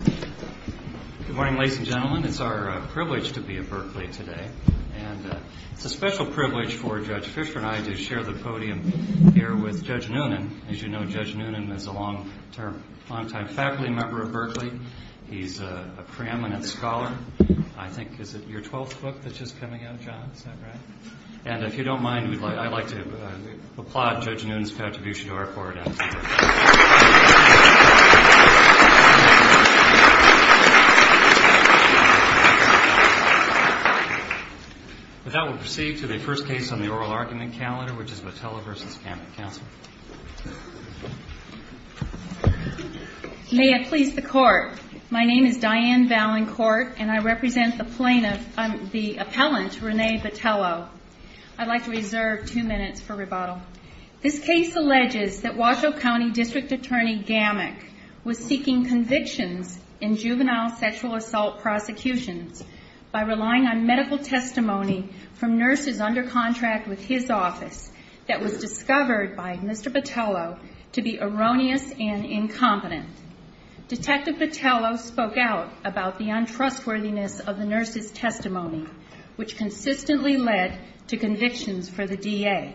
Good morning, ladies and gentlemen. It's our privilege to be at Berkeley today. And it's a special privilege for Judge Fischer and I to share the podium here with Judge Noonan. As you know, Judge Noonan is a long-time faculty member of Berkeley. He's a preeminent scholar. I think, is it your 12th book that's just coming out, John? Is that right? And if you don't mind, I'd like to applaud Judge Noonan's contribution to our court. With that, we'll proceed to the first case on the oral argument calendar, which is Botello v. Gammick. Counsel? May it please the Court. My name is Diane Valancourt, and I represent the plaintiff, the appellant, Renee Botello. I'd like to reserve two minutes for rebuttal. This case alleges that Washoe County District Attorney Gammick was seeking convictions in juvenile sexual assault prosecutions by relying on medical testimony from nurses under contract with his office that was discovered by Mr. Botello to be erroneous and incompetent. Detective Botello spoke out about the untrustworthiness of the nurses' testimony, which consistently led to convictions for the DA.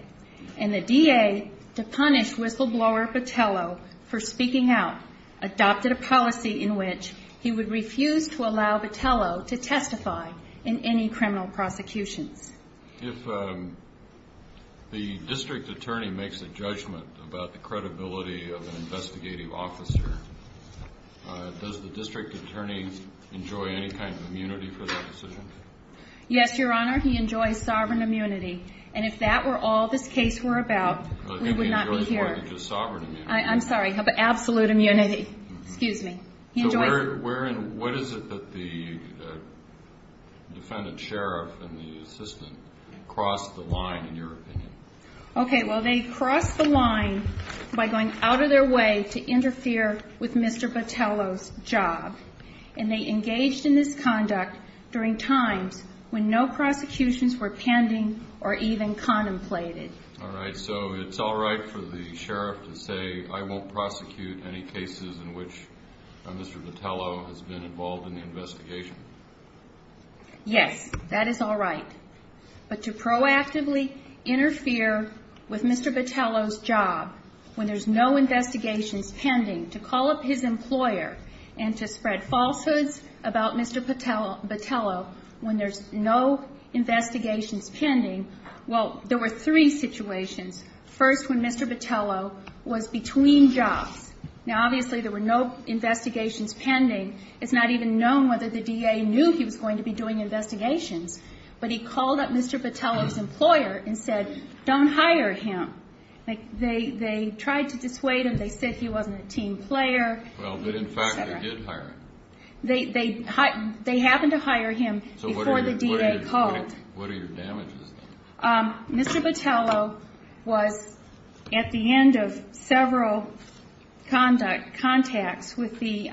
And the DA, to punish whistleblower Botello for speaking out, adopted a policy in which he would refuse to allow Botello to testify in any criminal prosecutions. If the district attorney makes a judgment about the credibility of an investigative officer, does the district attorney enjoy any kind of immunity for that decision? Yes, Your Honor, he enjoys sovereign immunity. And if that were all this case were about, we would not be here. He enjoys more than just sovereign immunity. I'm sorry, absolute immunity. Excuse me. What is it that the defendant sheriff and the assistant crossed the line, in your opinion? Okay, well, they crossed the line by going out of their way to interfere with Mr. Botello's job. And they engaged in this conduct during times when no prosecutions were pending or even contemplated. All right, so it's all right for the sheriff to say, I won't prosecute any cases in which Mr. Botello has been involved in the investigation? Yes, that is all right. But to proactively interfere with Mr. Botello's job when there's no investigations pending, to call up his employer and to spread falsehoods about Mr. Botello when there's no investigations pending. Well, there were three situations. First, when Mr. Botello was between jobs. Now, obviously, there were no investigations pending. It's not even known whether the DA knew he was going to be doing investigations. But he called up Mr. Botello's employer and said, don't hire him. They tried to dissuade him. They said he wasn't a team player. Well, but in fact, they did hire him. They happened to hire him before the DA called. What are your damages? Mr. Botello was at the end of several contacts with the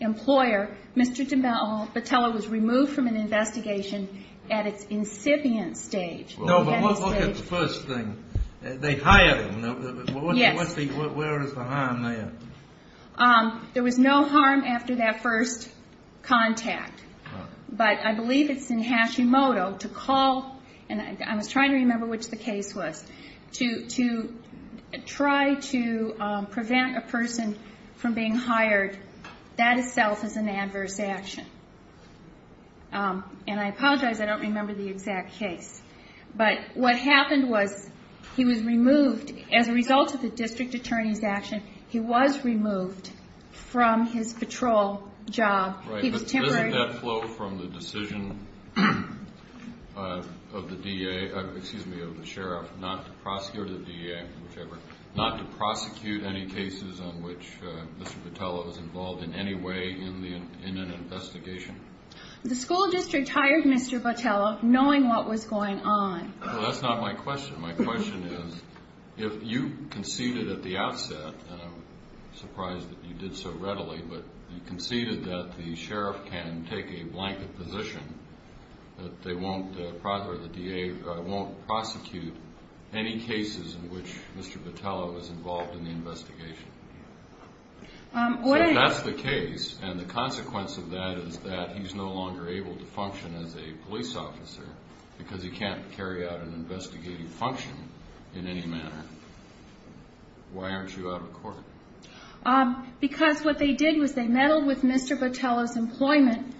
employer. Mr. Botello was removed from an investigation at its incipient stage. No, but look at the first thing. They hired him. Yes. Where is the harm then? There was no harm after that first contact. But I believe it's in Hashimoto to call, and I was trying to remember which the case was, to try to prevent a person from being hired. That itself is an adverse action. And I apologize, I don't remember the exact case. But what happened was he was removed as a result of the district attorney's action. He was removed from his patrol job. Doesn't that flow from the decision of the DA, excuse me, of the sheriff, not to prosecute any cases on which Mr. Botello was involved in any way in an investigation? The school district hired Mr. Botello knowing what was going on. Well, that's not my question. My question is if you conceded at the outset, and I'm surprised that you did so readily, but you conceded that the sheriff can take a blanket position that they won't prosecute any cases in which Mr. Botello was involved in the investigation. If that's the case, and the consequence of that is that he's no longer able to function as a police officer because he can't carry out an investigative function in any manner, why aren't you out of court? Because what they did was they meddled with Mr. Botello's employment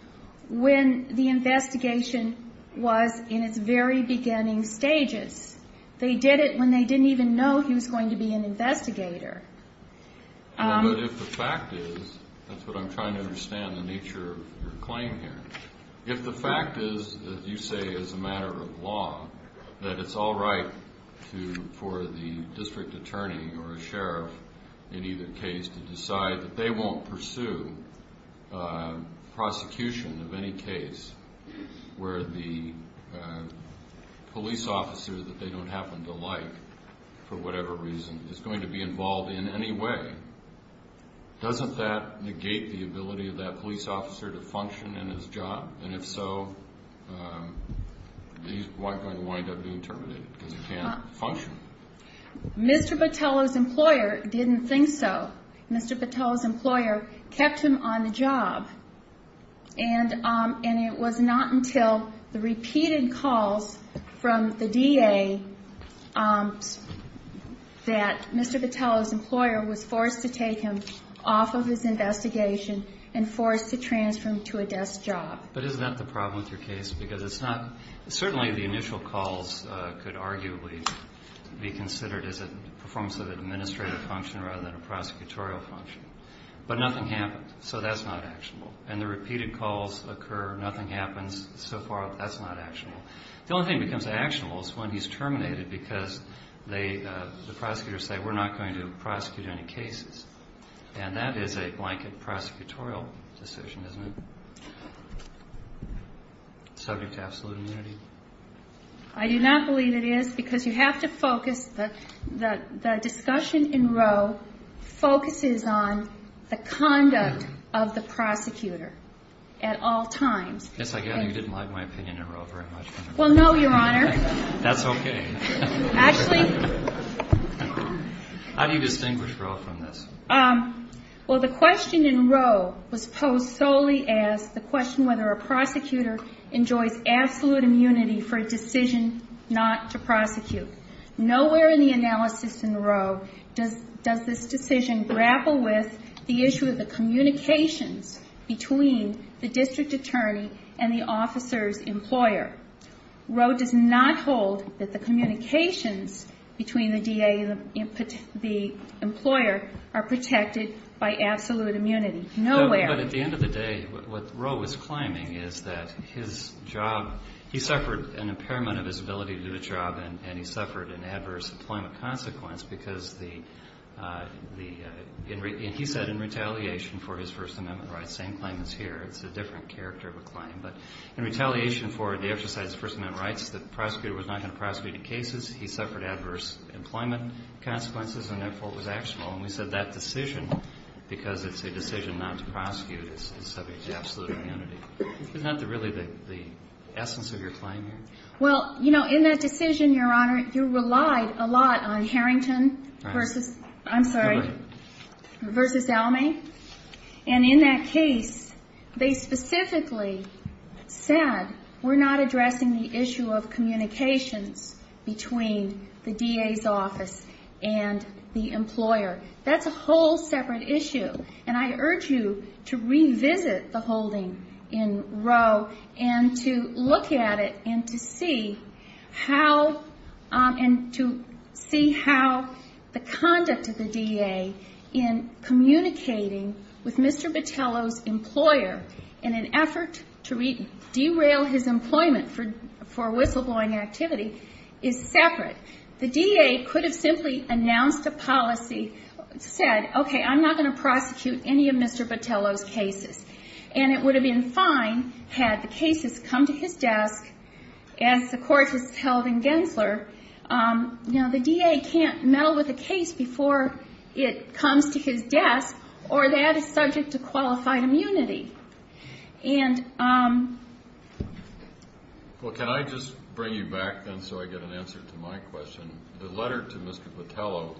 when the investigation was in its very beginning stages. They did it when they didn't even know he was going to be an investigator. But if the fact is, that's what I'm trying to understand, the nature of your claim here, if the fact is that you say as a matter of law that it's all right for the district attorney or a sheriff in either case to decide that they won't pursue prosecution of any case where the police officer that they don't happen to like for whatever reason is going to be involved in any way, doesn't that negate the ability of that police officer to function in his job? And if so, he's going to wind up being terminated because he can't function. Mr. Botello's employer didn't think so. Mr. Botello's employer kept him on the job. And it was not until the repeated calls from the DA that Mr. Botello's employer was forced to take him off of his investigation and forced to transfer him to a desk job. But isn't that the problem with your case? Because it's not – certainly the initial calls could arguably be considered as a performance of administrative function rather than a prosecutorial function. But nothing happened, so that's not actionable. And the repeated calls occur, nothing happens, so far that's not actionable. The only thing that becomes actionable is when he's terminated because the prosecutors say, we're not going to prosecute any cases. And that is a blanket prosecutorial decision, isn't it, subject to absolute immunity? I do not believe it is because you have to focus – the discussion in Roe focuses on the conduct of the prosecutor at all times. Yes, I get it. You didn't like my opinion in Roe very much. Well, no, Your Honor. That's okay. Actually – How do you distinguish Roe from this? Well, the question in Roe was posed solely as the question whether a prosecutor enjoys absolute immunity for a decision not to prosecute. Nowhere in the analysis in Roe does this decision grapple with the issue of the communications between the district attorney and the officer's employer. Roe does not hold that the communications between the DA and the employer are protected by absolute immunity. Nowhere. But at the end of the day, what Roe was claiming is that his job – he suffered an impairment of his ability to do a job, and he suffered an adverse employment consequence because the – and he said in retaliation for his First Amendment rights, the same claim is here. It's a different character of a claim. But in retaliation for the exercise of First Amendment rights, the prosecutor was not going to prosecute in cases. He suffered adverse employment consequences, and that fault was actual. And we said that decision, because it's a decision not to prosecute, is subject to absolute immunity. Isn't that really the essence of your claim here? Well, you know, in that decision, Your Honor, you relied a lot on Harrington versus – I'm sorry, versus Almay. And in that case, they specifically said, we're not addressing the issue of communications between the DA's office and the employer. That's a whole separate issue, and I urge you to revisit the holding in Roe and to look at it and to see how – and to see how the conduct of the DA in communicating with Mr. Botelho's employer in an effort to derail his employment for whistleblowing activity is separate. The DA could have simply announced a policy, said, okay, I'm not going to prosecute any of Mr. Botelho's cases. And it would have been fine had the cases come to his desk, as the court has held in Gensler. You know, the DA can't meddle with a case before it comes to his desk, or that is subject to qualified immunity. And – Well, can I just bring you back then so I get an answer to my question? The letter to Mr. Botelho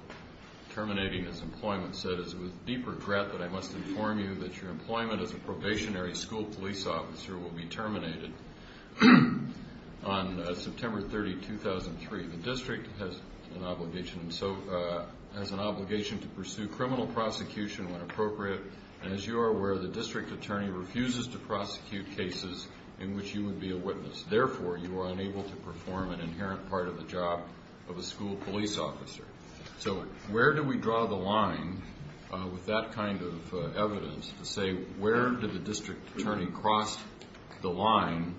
terminating his employment said, that I must inform you that your employment as a probationary school police officer will be terminated on September 30, 2003. The district has an obligation to pursue criminal prosecution when appropriate, and as you are aware, the district attorney refuses to prosecute cases in which you would be a witness. Therefore, you are unable to perform an inherent part of the job of a school police officer. So where do we draw the line with that kind of evidence to say, where did the district attorney cross the line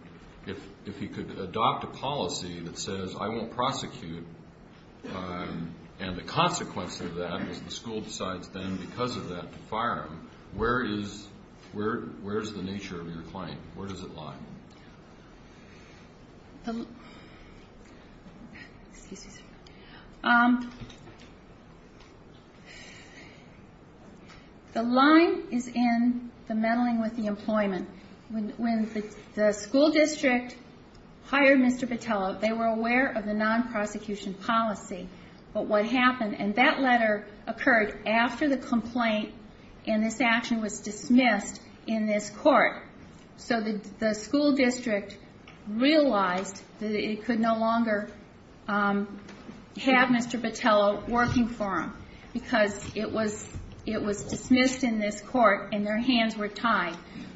if he could adopt a policy that says, I won't prosecute, and the consequence of that is the school decides then, because of that, to fire him? Where is the nature of your claim? Where does it lie? The line is in the meddling with the employment. When the school district hired Mr. Botelho, they were aware of the non-prosecution policy. But what happened, and that letter occurred after the complaint, and this action was dismissed in this court. So the school district realized that it could no longer have Mr. Botelho working for them, because it was dismissed in this court and their hands were tied.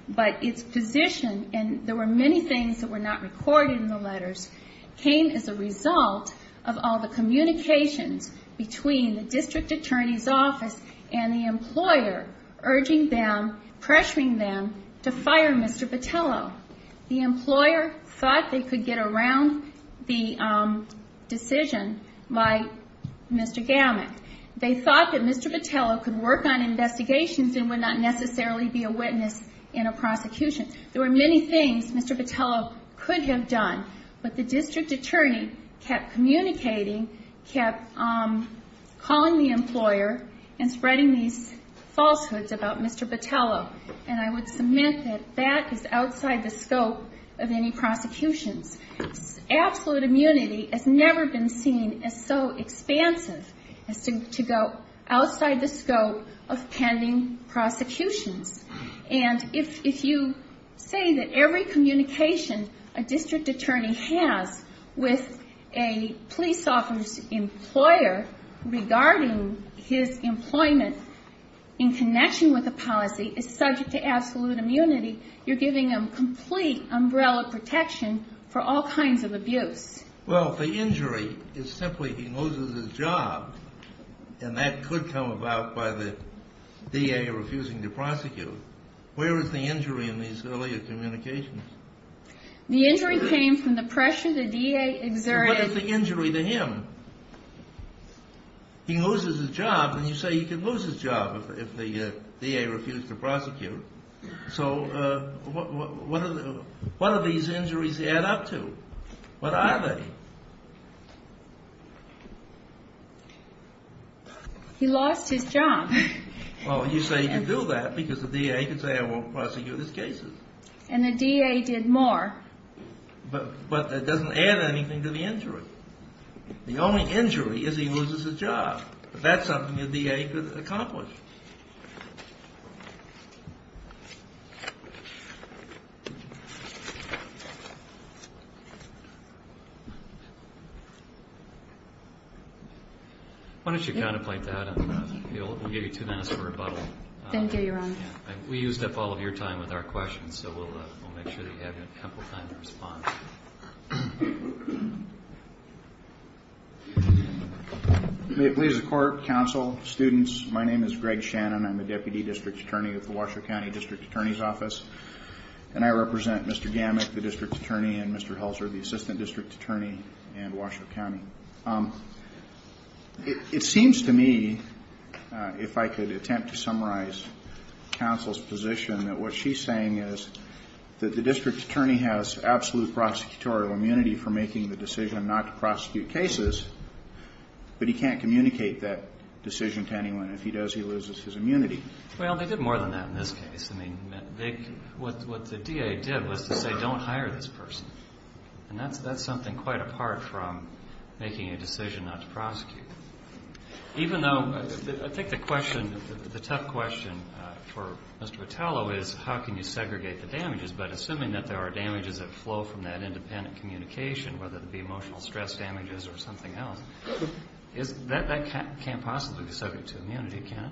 But its position, and there were many things that were not recorded in the letters, came as a result of all the communications between the district attorney's office and the employer, urging them, pressuring them, to fire Mr. Botelho. The employer thought they could get around the decision by Mr. Gamak. They thought that Mr. Botelho could work on investigations and would not necessarily be a witness in a prosecution. There were many things Mr. Botelho could have done, but the district attorney kept communicating, kept calling the employer and spreading these falsehoods about Mr. Botelho. And I would submit that that is outside the scope of any prosecutions. Absolute immunity has never been seen as so expansive as to go outside the scope of pending prosecutions. And if you say that every communication a district attorney has with a police officer's employer regarding his employment in connection with a policy is subject to absolute immunity, you're giving him complete umbrella protection for all kinds of abuse. Well, the injury is simply he loses his job, and that could come about by the DA refusing to prosecute. Where is the injury in these earlier communications? The injury came from the pressure the DA exerted. So what is the injury to him? He loses his job, and you say he could lose his job if the DA refused to prosecute. So what do these injuries add up to? What are they? He lost his job. Well, you say he could do that because the DA could say I won't prosecute his cases. And the DA did more. But that doesn't add anything to the injury. The only injury is he loses his job. That's something the DA could accomplish. Why don't you contemplate that, and we'll give you two minutes for rebuttal. Thank you, Your Honor. We used up all of your time with our questions, so we'll make sure that you have ample time to respond. Thank you. May it please the Court, counsel, students, my name is Greg Shannon. I'm a Deputy District Attorney with the Washoe County District Attorney's Office, and I represent Mr. Gamak, the District Attorney, and Mr. Helzer, the Assistant District Attorney in Washoe County. It seems to me, if I could attempt to summarize counsel's position, that what she's saying is that the District Attorney has absolute prosecutorial immunity for making the decision not to prosecute cases, but he can't communicate that decision to anyone. If he does, he loses his immunity. Well, they did more than that in this case. I mean, what the DA did was to say don't hire this person. And that's something quite apart from making a decision not to prosecute. Even though I think the question, the tough question for Mr. Patello is how can you segregate the damages, but assuming that there are damages that flow from that independent communication, whether it be emotional stress damages or something else, that can't possibly be subject to immunity, can it?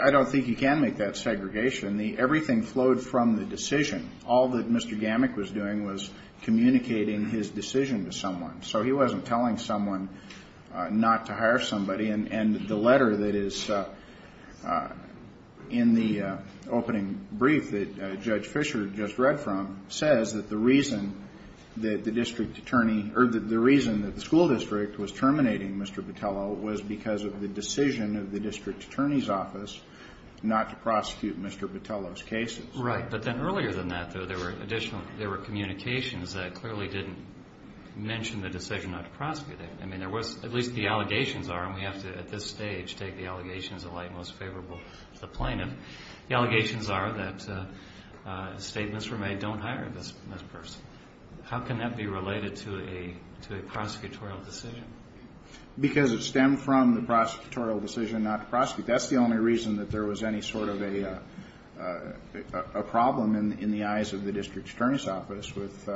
I don't think he can make that segregation. Everything flowed from the decision. All that Mr. Gamak was doing was communicating his decision to someone. So he wasn't telling someone not to hire somebody. And the letter that is in the opening brief that Judge Fischer just read from says that the reason that the District Attorney or the reason that the school district was terminating Mr. Patello was because of the decision of the District Attorney's office not to prosecute Mr. Patello's cases. Right. But then earlier than that, though, there were additional, there were communications that clearly didn't mention the decision not to prosecute him. I mean, there was, at least the allegations are, and we have to at this stage take the allegations that lie most favorable to the plaintiff. The allegations are that statements were made, don't hire this person. How can that be related to a prosecutorial decision? Because it stemmed from the prosecutorial decision not to prosecute. That's the only reason that there was any sort of a problem in the eyes of the District Attorney's office with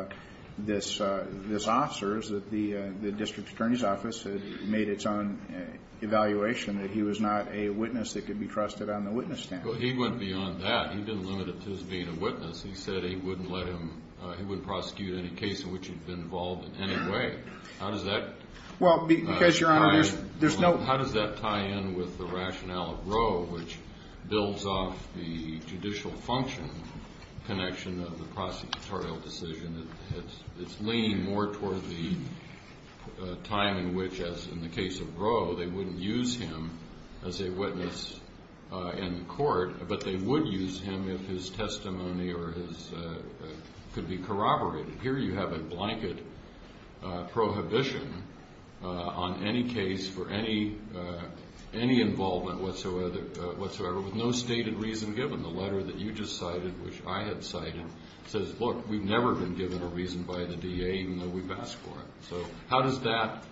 this officer is that the District Attorney's office had made its own evaluation that he was not a witness that could be trusted on the witness stand. Well, he went beyond that. He didn't limit it to his being a witness. He said he wouldn't let him, he wouldn't prosecute any case in which he'd been involved in any way. How does that tie in? Well, it does tie in with the rationale of Roe, which builds off the judicial function connection of the prosecutorial decision. It's leaning more towards the time in which, as in the case of Roe, they wouldn't use him as a witness in court, but they would use him if his testimony or his, could be corroborated. Here you have a blanket prohibition on any case for any involvement whatsoever with no stated reason given. The letter that you just cited, which I had cited, says, look, we've never been given a reason by the DA even though we've asked for it. So how does that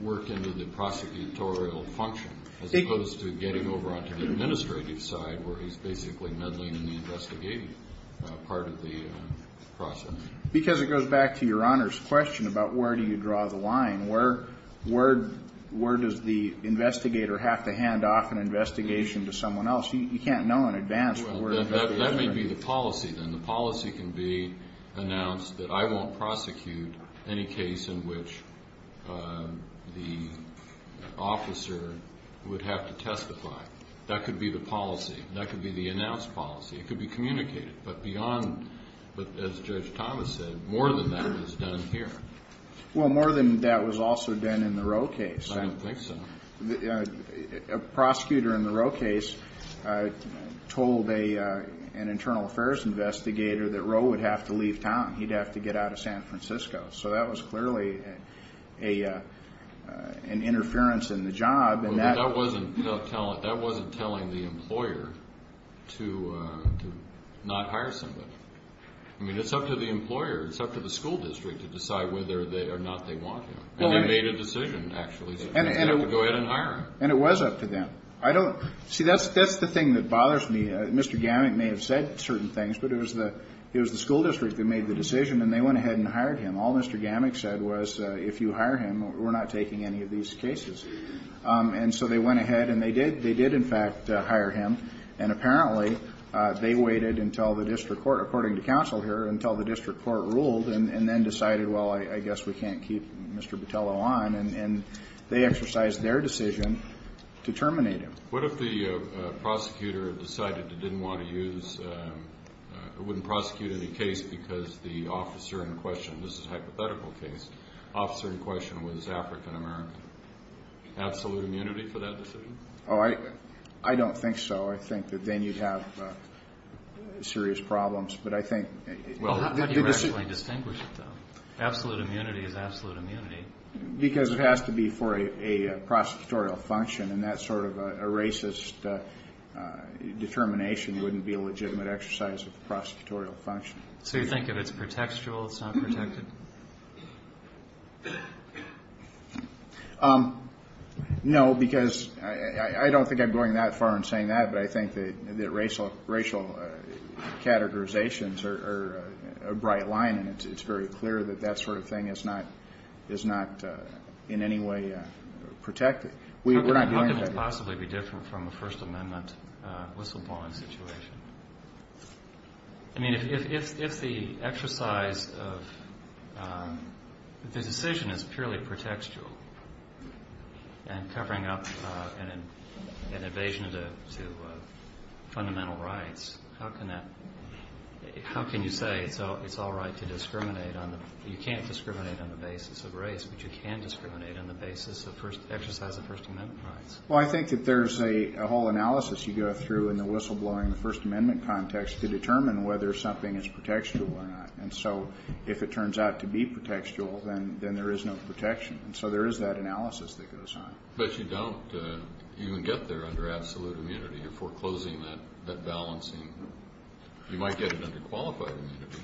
work into the prosecutorial function as opposed to getting over onto the administrative side where he's basically meddling in the investigative part of the process? Because it goes back to Your Honor's question about where do you draw the line. Where does the investigator have to hand off an investigation to someone else? You can't know in advance where the investigation is. That may be the policy, then. The policy can be announced that I won't prosecute any case in which the officer would have to testify. That could be the policy. That could be the announced policy. It could be communicated. But beyond, as Judge Thomas said, more than that is done here. Well, more than that was also done in the Roe case. I don't think so. A prosecutor in the Roe case told an internal affairs investigator that Roe would have to leave town. He'd have to get out of San Francisco. So that was clearly an interference in the job. That wasn't telling the employer to not hire somebody. I mean, it's up to the employer. It's up to the school district to decide whether or not they want him. And they made a decision, actually, to go ahead and hire him. And it was up to them. See, that's the thing that bothers me. Mr. Gamak may have said certain things, but it was the school district that made the decision, and they went ahead and hired him. All Mr. Gamak said was, if you hire him, we're not taking any of these cases. And so they went ahead and they did. They did, in fact, hire him. And apparently they waited until the district court, according to counsel here, until the district court ruled and then decided, well, I guess we can't keep Mr. Botello on. And they exercised their decision to terminate him. What if the prosecutor decided they didn't want to use or wouldn't prosecute any case because the officer in question, this is a hypothetical case, officer in question was African-American? Absolute immunity for that decision? Oh, I don't think so. I think that then you'd have serious problems. But I think the decision – Well, how do you actually distinguish it, though? Absolute immunity is absolute immunity. Because it has to be for a prosecutorial function, and that sort of a racist determination wouldn't be a legitimate exercise of the prosecutorial function. So you think if it's protectual, it's not protected? No, because I don't think I'm going that far in saying that, but I think that racial categorizations are a bright line, and it's very clear that that sort of thing is not in any way protected. How could it possibly be different from a First Amendment whistleblowing situation? I mean, if the exercise of the decision is purely protectual and covering up an invasion to fundamental rights, how can you say it's all right to discriminate on the – you can't discriminate on the basis of race, but you can discriminate on the basis of exercise of First Amendment rights? Well, I think that there's a whole analysis you go through in the whistleblowing, the First Amendment context to determine whether something is protectual or not. And so if it turns out to be protectual, then there is no protection. And so there is that analysis that goes on. But you don't even get there under absolute immunity. You're foreclosing that balancing. You might get it under qualified immunity.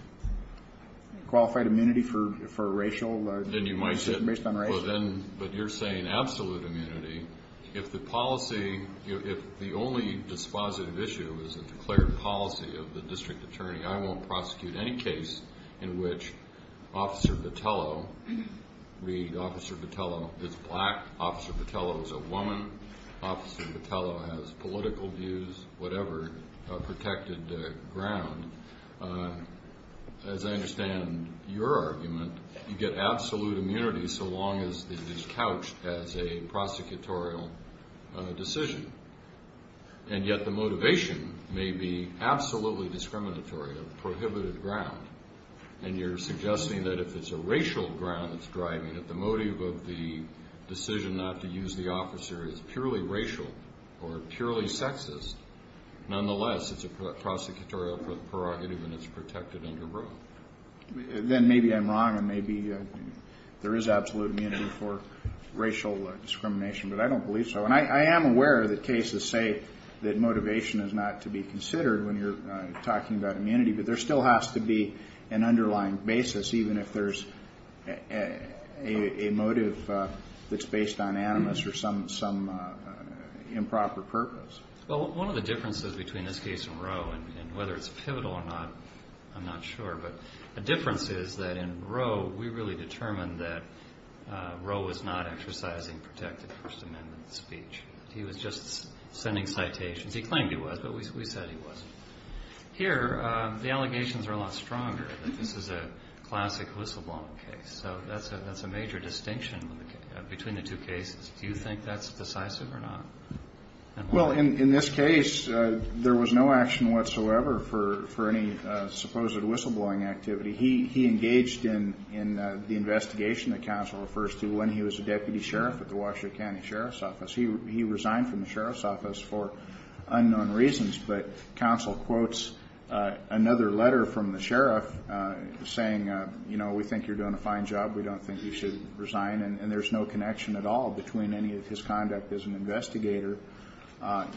Qualified immunity for racial – Then you might get – Based on race. But you're saying absolute immunity. If the policy – if the only dispositive issue is a declared policy of the district attorney, I won't prosecute any case in which Officer Petello – read Officer Petello, it's black. Officer Petello is a woman. Officer Petello has political views, whatever protected ground. As I understand your argument, you get absolute immunity so long as it is couched as a prosecutorial decision. And yet the motivation may be absolutely discriminatory, a prohibited ground. And you're suggesting that if it's a racial ground that's driving it, that the motive of the decision not to use the officer is purely racial or purely sexist, nonetheless it's a prosecutorial prerogative and it's protected under both. Then maybe I'm wrong and maybe there is absolute immunity for racial discrimination. But I don't believe so. And I am aware that cases say that motivation is not to be considered when you're talking about immunity. But there still has to be an underlying basis, even if there's a motive that's based on animus or some improper purpose. Well, one of the differences between this case and Roe, and whether it's pivotal or not, I'm not sure. But the difference is that in Roe, we really determined that Roe was not exercising protected First Amendment speech. He was just sending citations. He claimed he was, but we said he wasn't. Here, the allegations are a lot stronger that this is a classic whistleblowing case. So that's a major distinction between the two cases. Do you think that's decisive or not? Well, in this case, there was no action whatsoever for any supposed whistleblowing activity. He engaged in the investigation that counsel refers to when he was a deputy sheriff at the Washington County Sheriff's Office. He resigned from the sheriff's office for unknown reasons. But counsel quotes another letter from the sheriff saying, you know, we think you're doing a fine job. We don't think you should resign. And there's no connection at all between any of his conduct as an investigator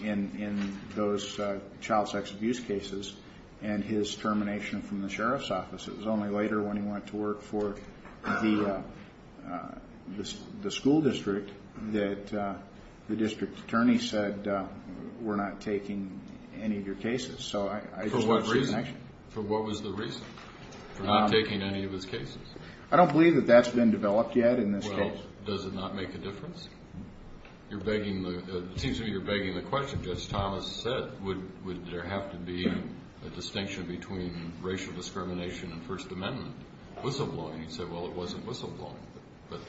in those child sex abuse cases only later when he went to work for the school district that the district attorney said, we're not taking any of your cases. For what reason? For what was the reason? For not taking any of his cases? I don't believe that that's been developed yet in this case. Well, does it not make a difference? It seems to me you're begging the question. Judge Thomas said, would there have to be a distinction between racial discrimination and First Amendment whistleblowing? He said, well, it wasn't whistleblowing. But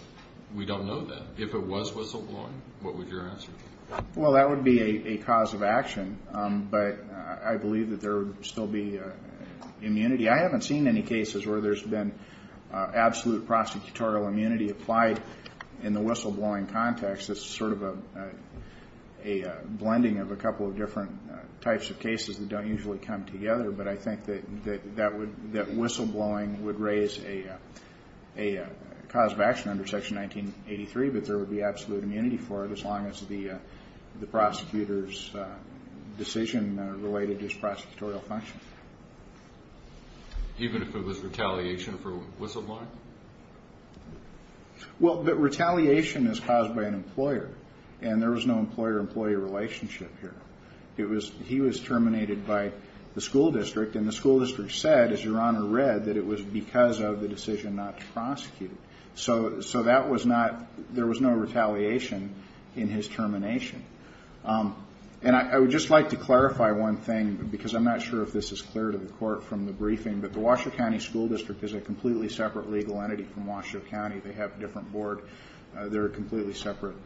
we don't know that. If it was whistleblowing, what would your answer be? Well, that would be a cause of action. But I believe that there would still be immunity. I haven't seen any cases where there's been absolute prosecutorial immunity applied in the whistleblowing context. It's sort of a blending of a couple of different types of cases that don't usually come together. But I think that whistleblowing would raise a cause of action under Section 1983, but there would be absolute immunity for it as long as the prosecutor's decision related to his prosecutorial function. Even if it was retaliation for whistleblowing? Well, retaliation is caused by an employer. And there was no employer-employee relationship here. He was terminated by the school district. And the school district said, as Your Honor read, that it was because of the decision not to prosecute. So that was not – there was no retaliation in his termination. And I would just like to clarify one thing, because I'm not sure if this is clear to the Court from the briefing, but the Washoe County School District is a completely separate legal entity from Washoe County. They have a different board. They're a completely separate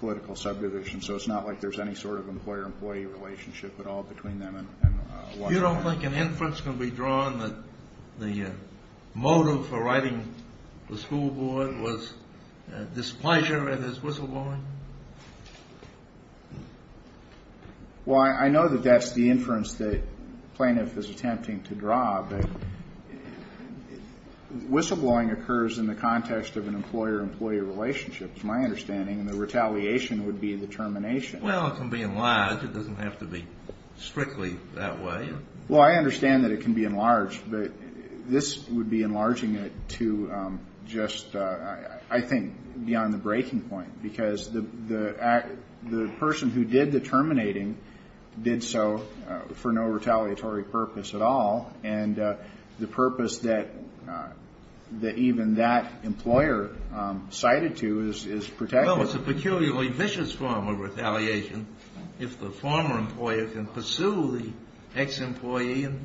political subdivision. So it's not like there's any sort of employer-employee relationship at all between them and Washoe County. So you don't think an inference can be drawn that the motive for writing the school board was displeasure and is whistleblowing? Well, I know that that's the inference that the plaintiff is attempting to draw, but whistleblowing occurs in the context of an employer-employee relationship, from my understanding, and the retaliation would be the termination. Well, it can be enlarged. It doesn't have to be strictly that way. Well, I understand that it can be enlarged, but this would be enlarging it to just, I think, beyond the breaking point, because the person who did the terminating did so for no retaliatory purpose at all, and the purpose that even that employer cited to is protected. Well, it's a peculiarly vicious form of retaliation if the former employer can pursue the ex-employee and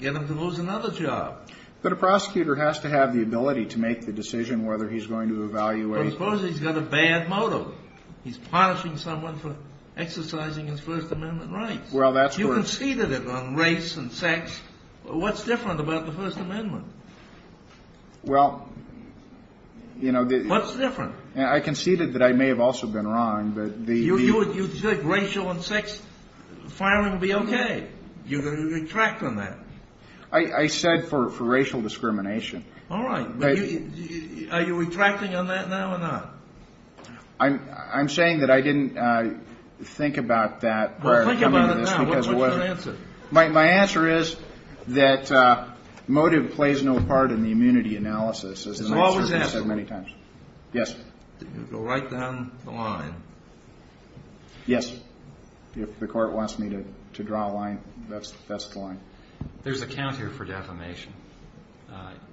get him to lose another job. But a prosecutor has to have the ability to make the decision whether he's going to evaluate. Well, suppose he's got a bad motive. He's punishing someone for exercising his First Amendment rights. You conceded it on race and sex. What's different about the First Amendment? Well, you know, the... What's different? I conceded that I may have also been wrong, but the... You said racial and sex firing would be okay. You're going to retract on that. I said for racial discrimination. All right. Are you retracting on that now or not? I'm saying that I didn't think about that prior to coming to this because of what... Well, think about it now. What's your answer? My answer is that motive plays no part in the immunity analysis. As long as that's... As I've said many times. Yes. Go right down the line. Yes. If the court wants me to draw a line, that's the line. There's a count here for defamation.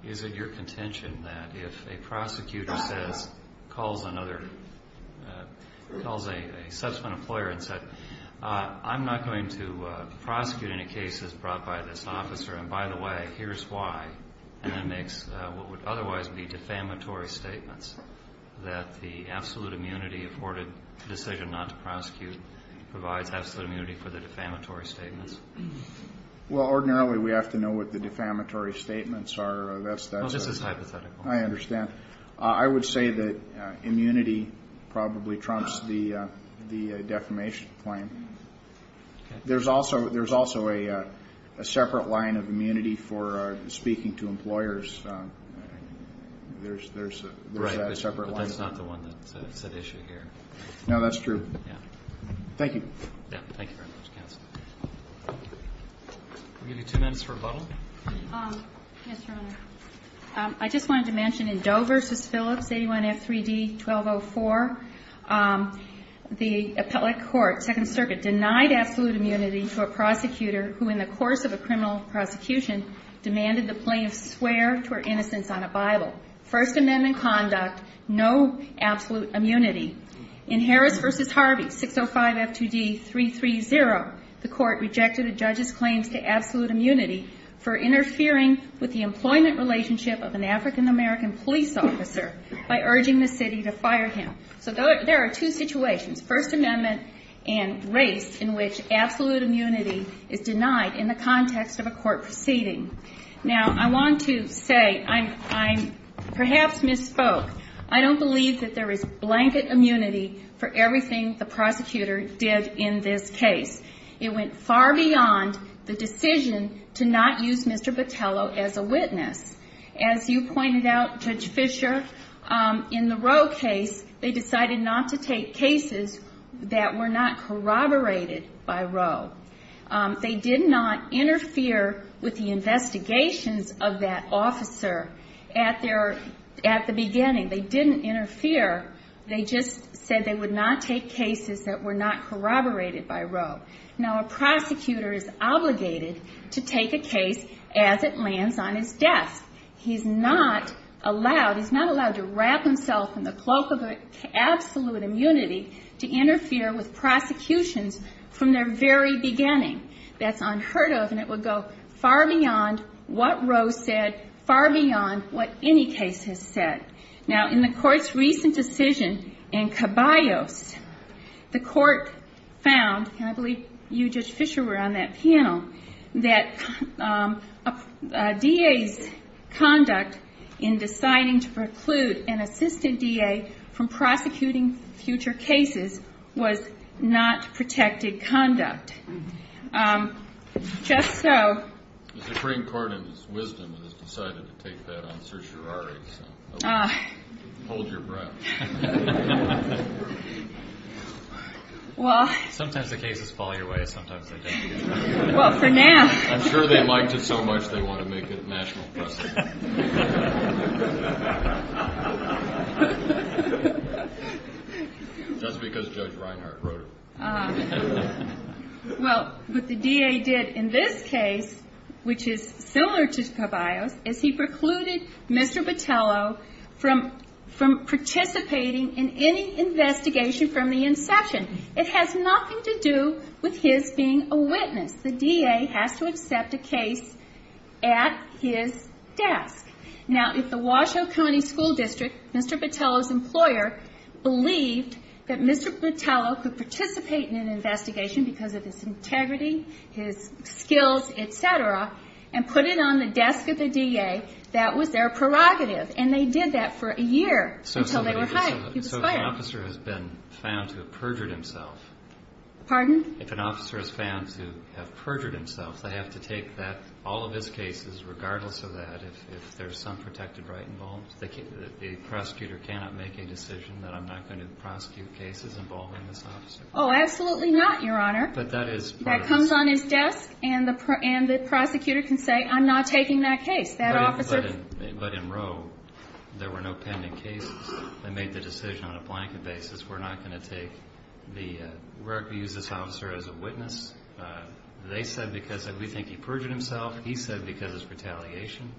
Is it your contention that if a prosecutor says, calls another... calls a subsequent employer and said, I'm not going to prosecute any cases brought by this officer, and by the way, here's why, and then makes what would otherwise be defamatory statements, that the absolute immunity afforded decision not to prosecute provides absolute immunity for the defamatory statements? Well, ordinarily we have to know what the defamatory statements are. Well, this is hypothetical. I understand. I would say that immunity probably trumps the defamation claim. There's also a separate line of immunity for speaking to employers. There's that separate line. Right. But that's not the one that's at issue here. No, that's true. Yeah. Thank you. Yeah. Thank you very much, counsel. We'll give you two minutes for rebuttal. Yes, Your Honor. I just wanted to mention in Doe v. Phillips, 81F3D1204, the appellate court, Second Circuit, denied absolute immunity to a prosecutor who, in the course of a criminal prosecution, demanded the plaintiff swear to her innocence on a Bible. First Amendment conduct, no absolute immunity. In Harris v. Harvey, 605F2D330, the court rejected a judge's claims to absolute immunity for interfering with the employment relationship of an African-American police officer by urging the city to fire him. So there are two situations, First Amendment and race, in which absolute immunity is denied in the context of a court proceeding. Now, I want to say I'm perhaps misspoke. I don't believe that there is blanket immunity for everything the prosecutor did in this case. It went far beyond the decision to not use Mr. Botello as a witness. As you pointed out, Judge Fischer, in the Roe case, they decided not to take cases that were not corroborated by Roe. They did not interfere with the investigations of that officer at the beginning. They didn't interfere. They just said they would not take cases that were not corroborated by Roe. Now, a prosecutor is obligated to take a case as it lands on his desk. He's not allowed to wrap himself in the cloak of absolute immunity to interfere with prosecutions from their very beginning. That's unheard of, and it would go far beyond what Roe said, far beyond what any case has said. Now, in the Court's recent decision in Caballos, the Court found, and I believe you, Judge Fischer, were on that panel, that a DA's conduct in deciding to preclude an assistant DA from prosecuting future cases was not protected conduct. Just so. The Supreme Court, in its wisdom, has decided to take that on certiorari. Hold your breath. Sometimes the cases fall your way. Sometimes they don't. Well, for now. I'm sure they liked it so much they want to make it national precedent. Just because Judge Reinhart wrote it. Well, what the DA did in this case, which is similar to Caballos, is he precluded Mr. Botelho from participating in any investigation from the inception. It has nothing to do with his being a witness. The DA has to accept a case at his desk. Now, if the Washoe County School District, Mr. Botelho's employer, believed that Mr. Botelho could participate in an investigation because of his integrity, his skills, et cetera, and put it on the desk of the DA, that was their prerogative. And they did that for a year until they were hired. So an officer has been found to have perjured himself. Pardon? If an officer is found to have perjured himself, they have to take all of his cases, regardless of that, if there's some protected right involved. The prosecutor cannot make a decision that I'm not going to prosecute cases involving this officer. Oh, absolutely not, Your Honor. But that is part of the system. That comes on his desk, and the prosecutor can say, I'm not taking that case. But in Roe, there were no pending cases. They made the decision on a blanket basis. We're not going to take the – we're going to use this officer as a witness. They said because we think he perjured himself. He said because it's retaliation.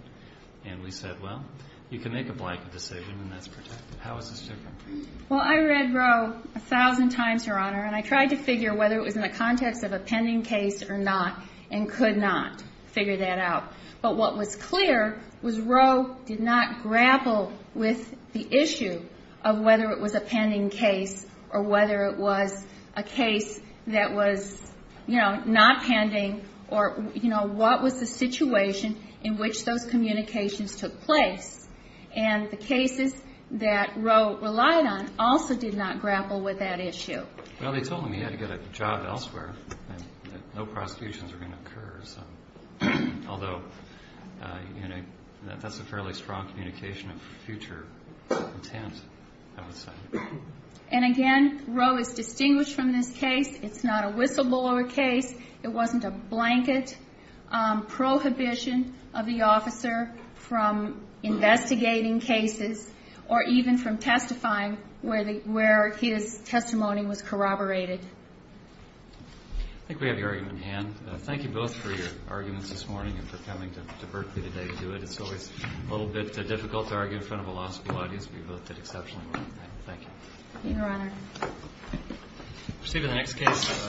And we said, well, you can make a blanket decision, and that's protected. How is this different? Well, I read Roe a thousand times, Your Honor, and I tried to figure whether it was in the context of a pending case or not and could not figure that out. But what was clear was Roe did not grapple with the issue of whether it was a pending case or whether it was a case that was, you know, not pending or, you know, what was the situation in which those communications took place. And the cases that Roe relied on also did not grapple with that issue. Well, they told him he had to get a job elsewhere and that no prosecutions were going to occur. Although, you know, that's a fairly strong communication of future intent, I would say. And again, Roe is distinguished from this case. It's not a whistleblower case. It wasn't a blanket prohibition of the officer from investigating cases or even from testifying where his testimony was corroborated. I think we have your argument in hand. Thank you both for your arguments this morning and for coming to Berkeley today to do it. It's always a little bit difficult to argue in front of a law school audience, but you both did exceptionally well. Thank you. Thank you, Your Honor. Proceed with the next case.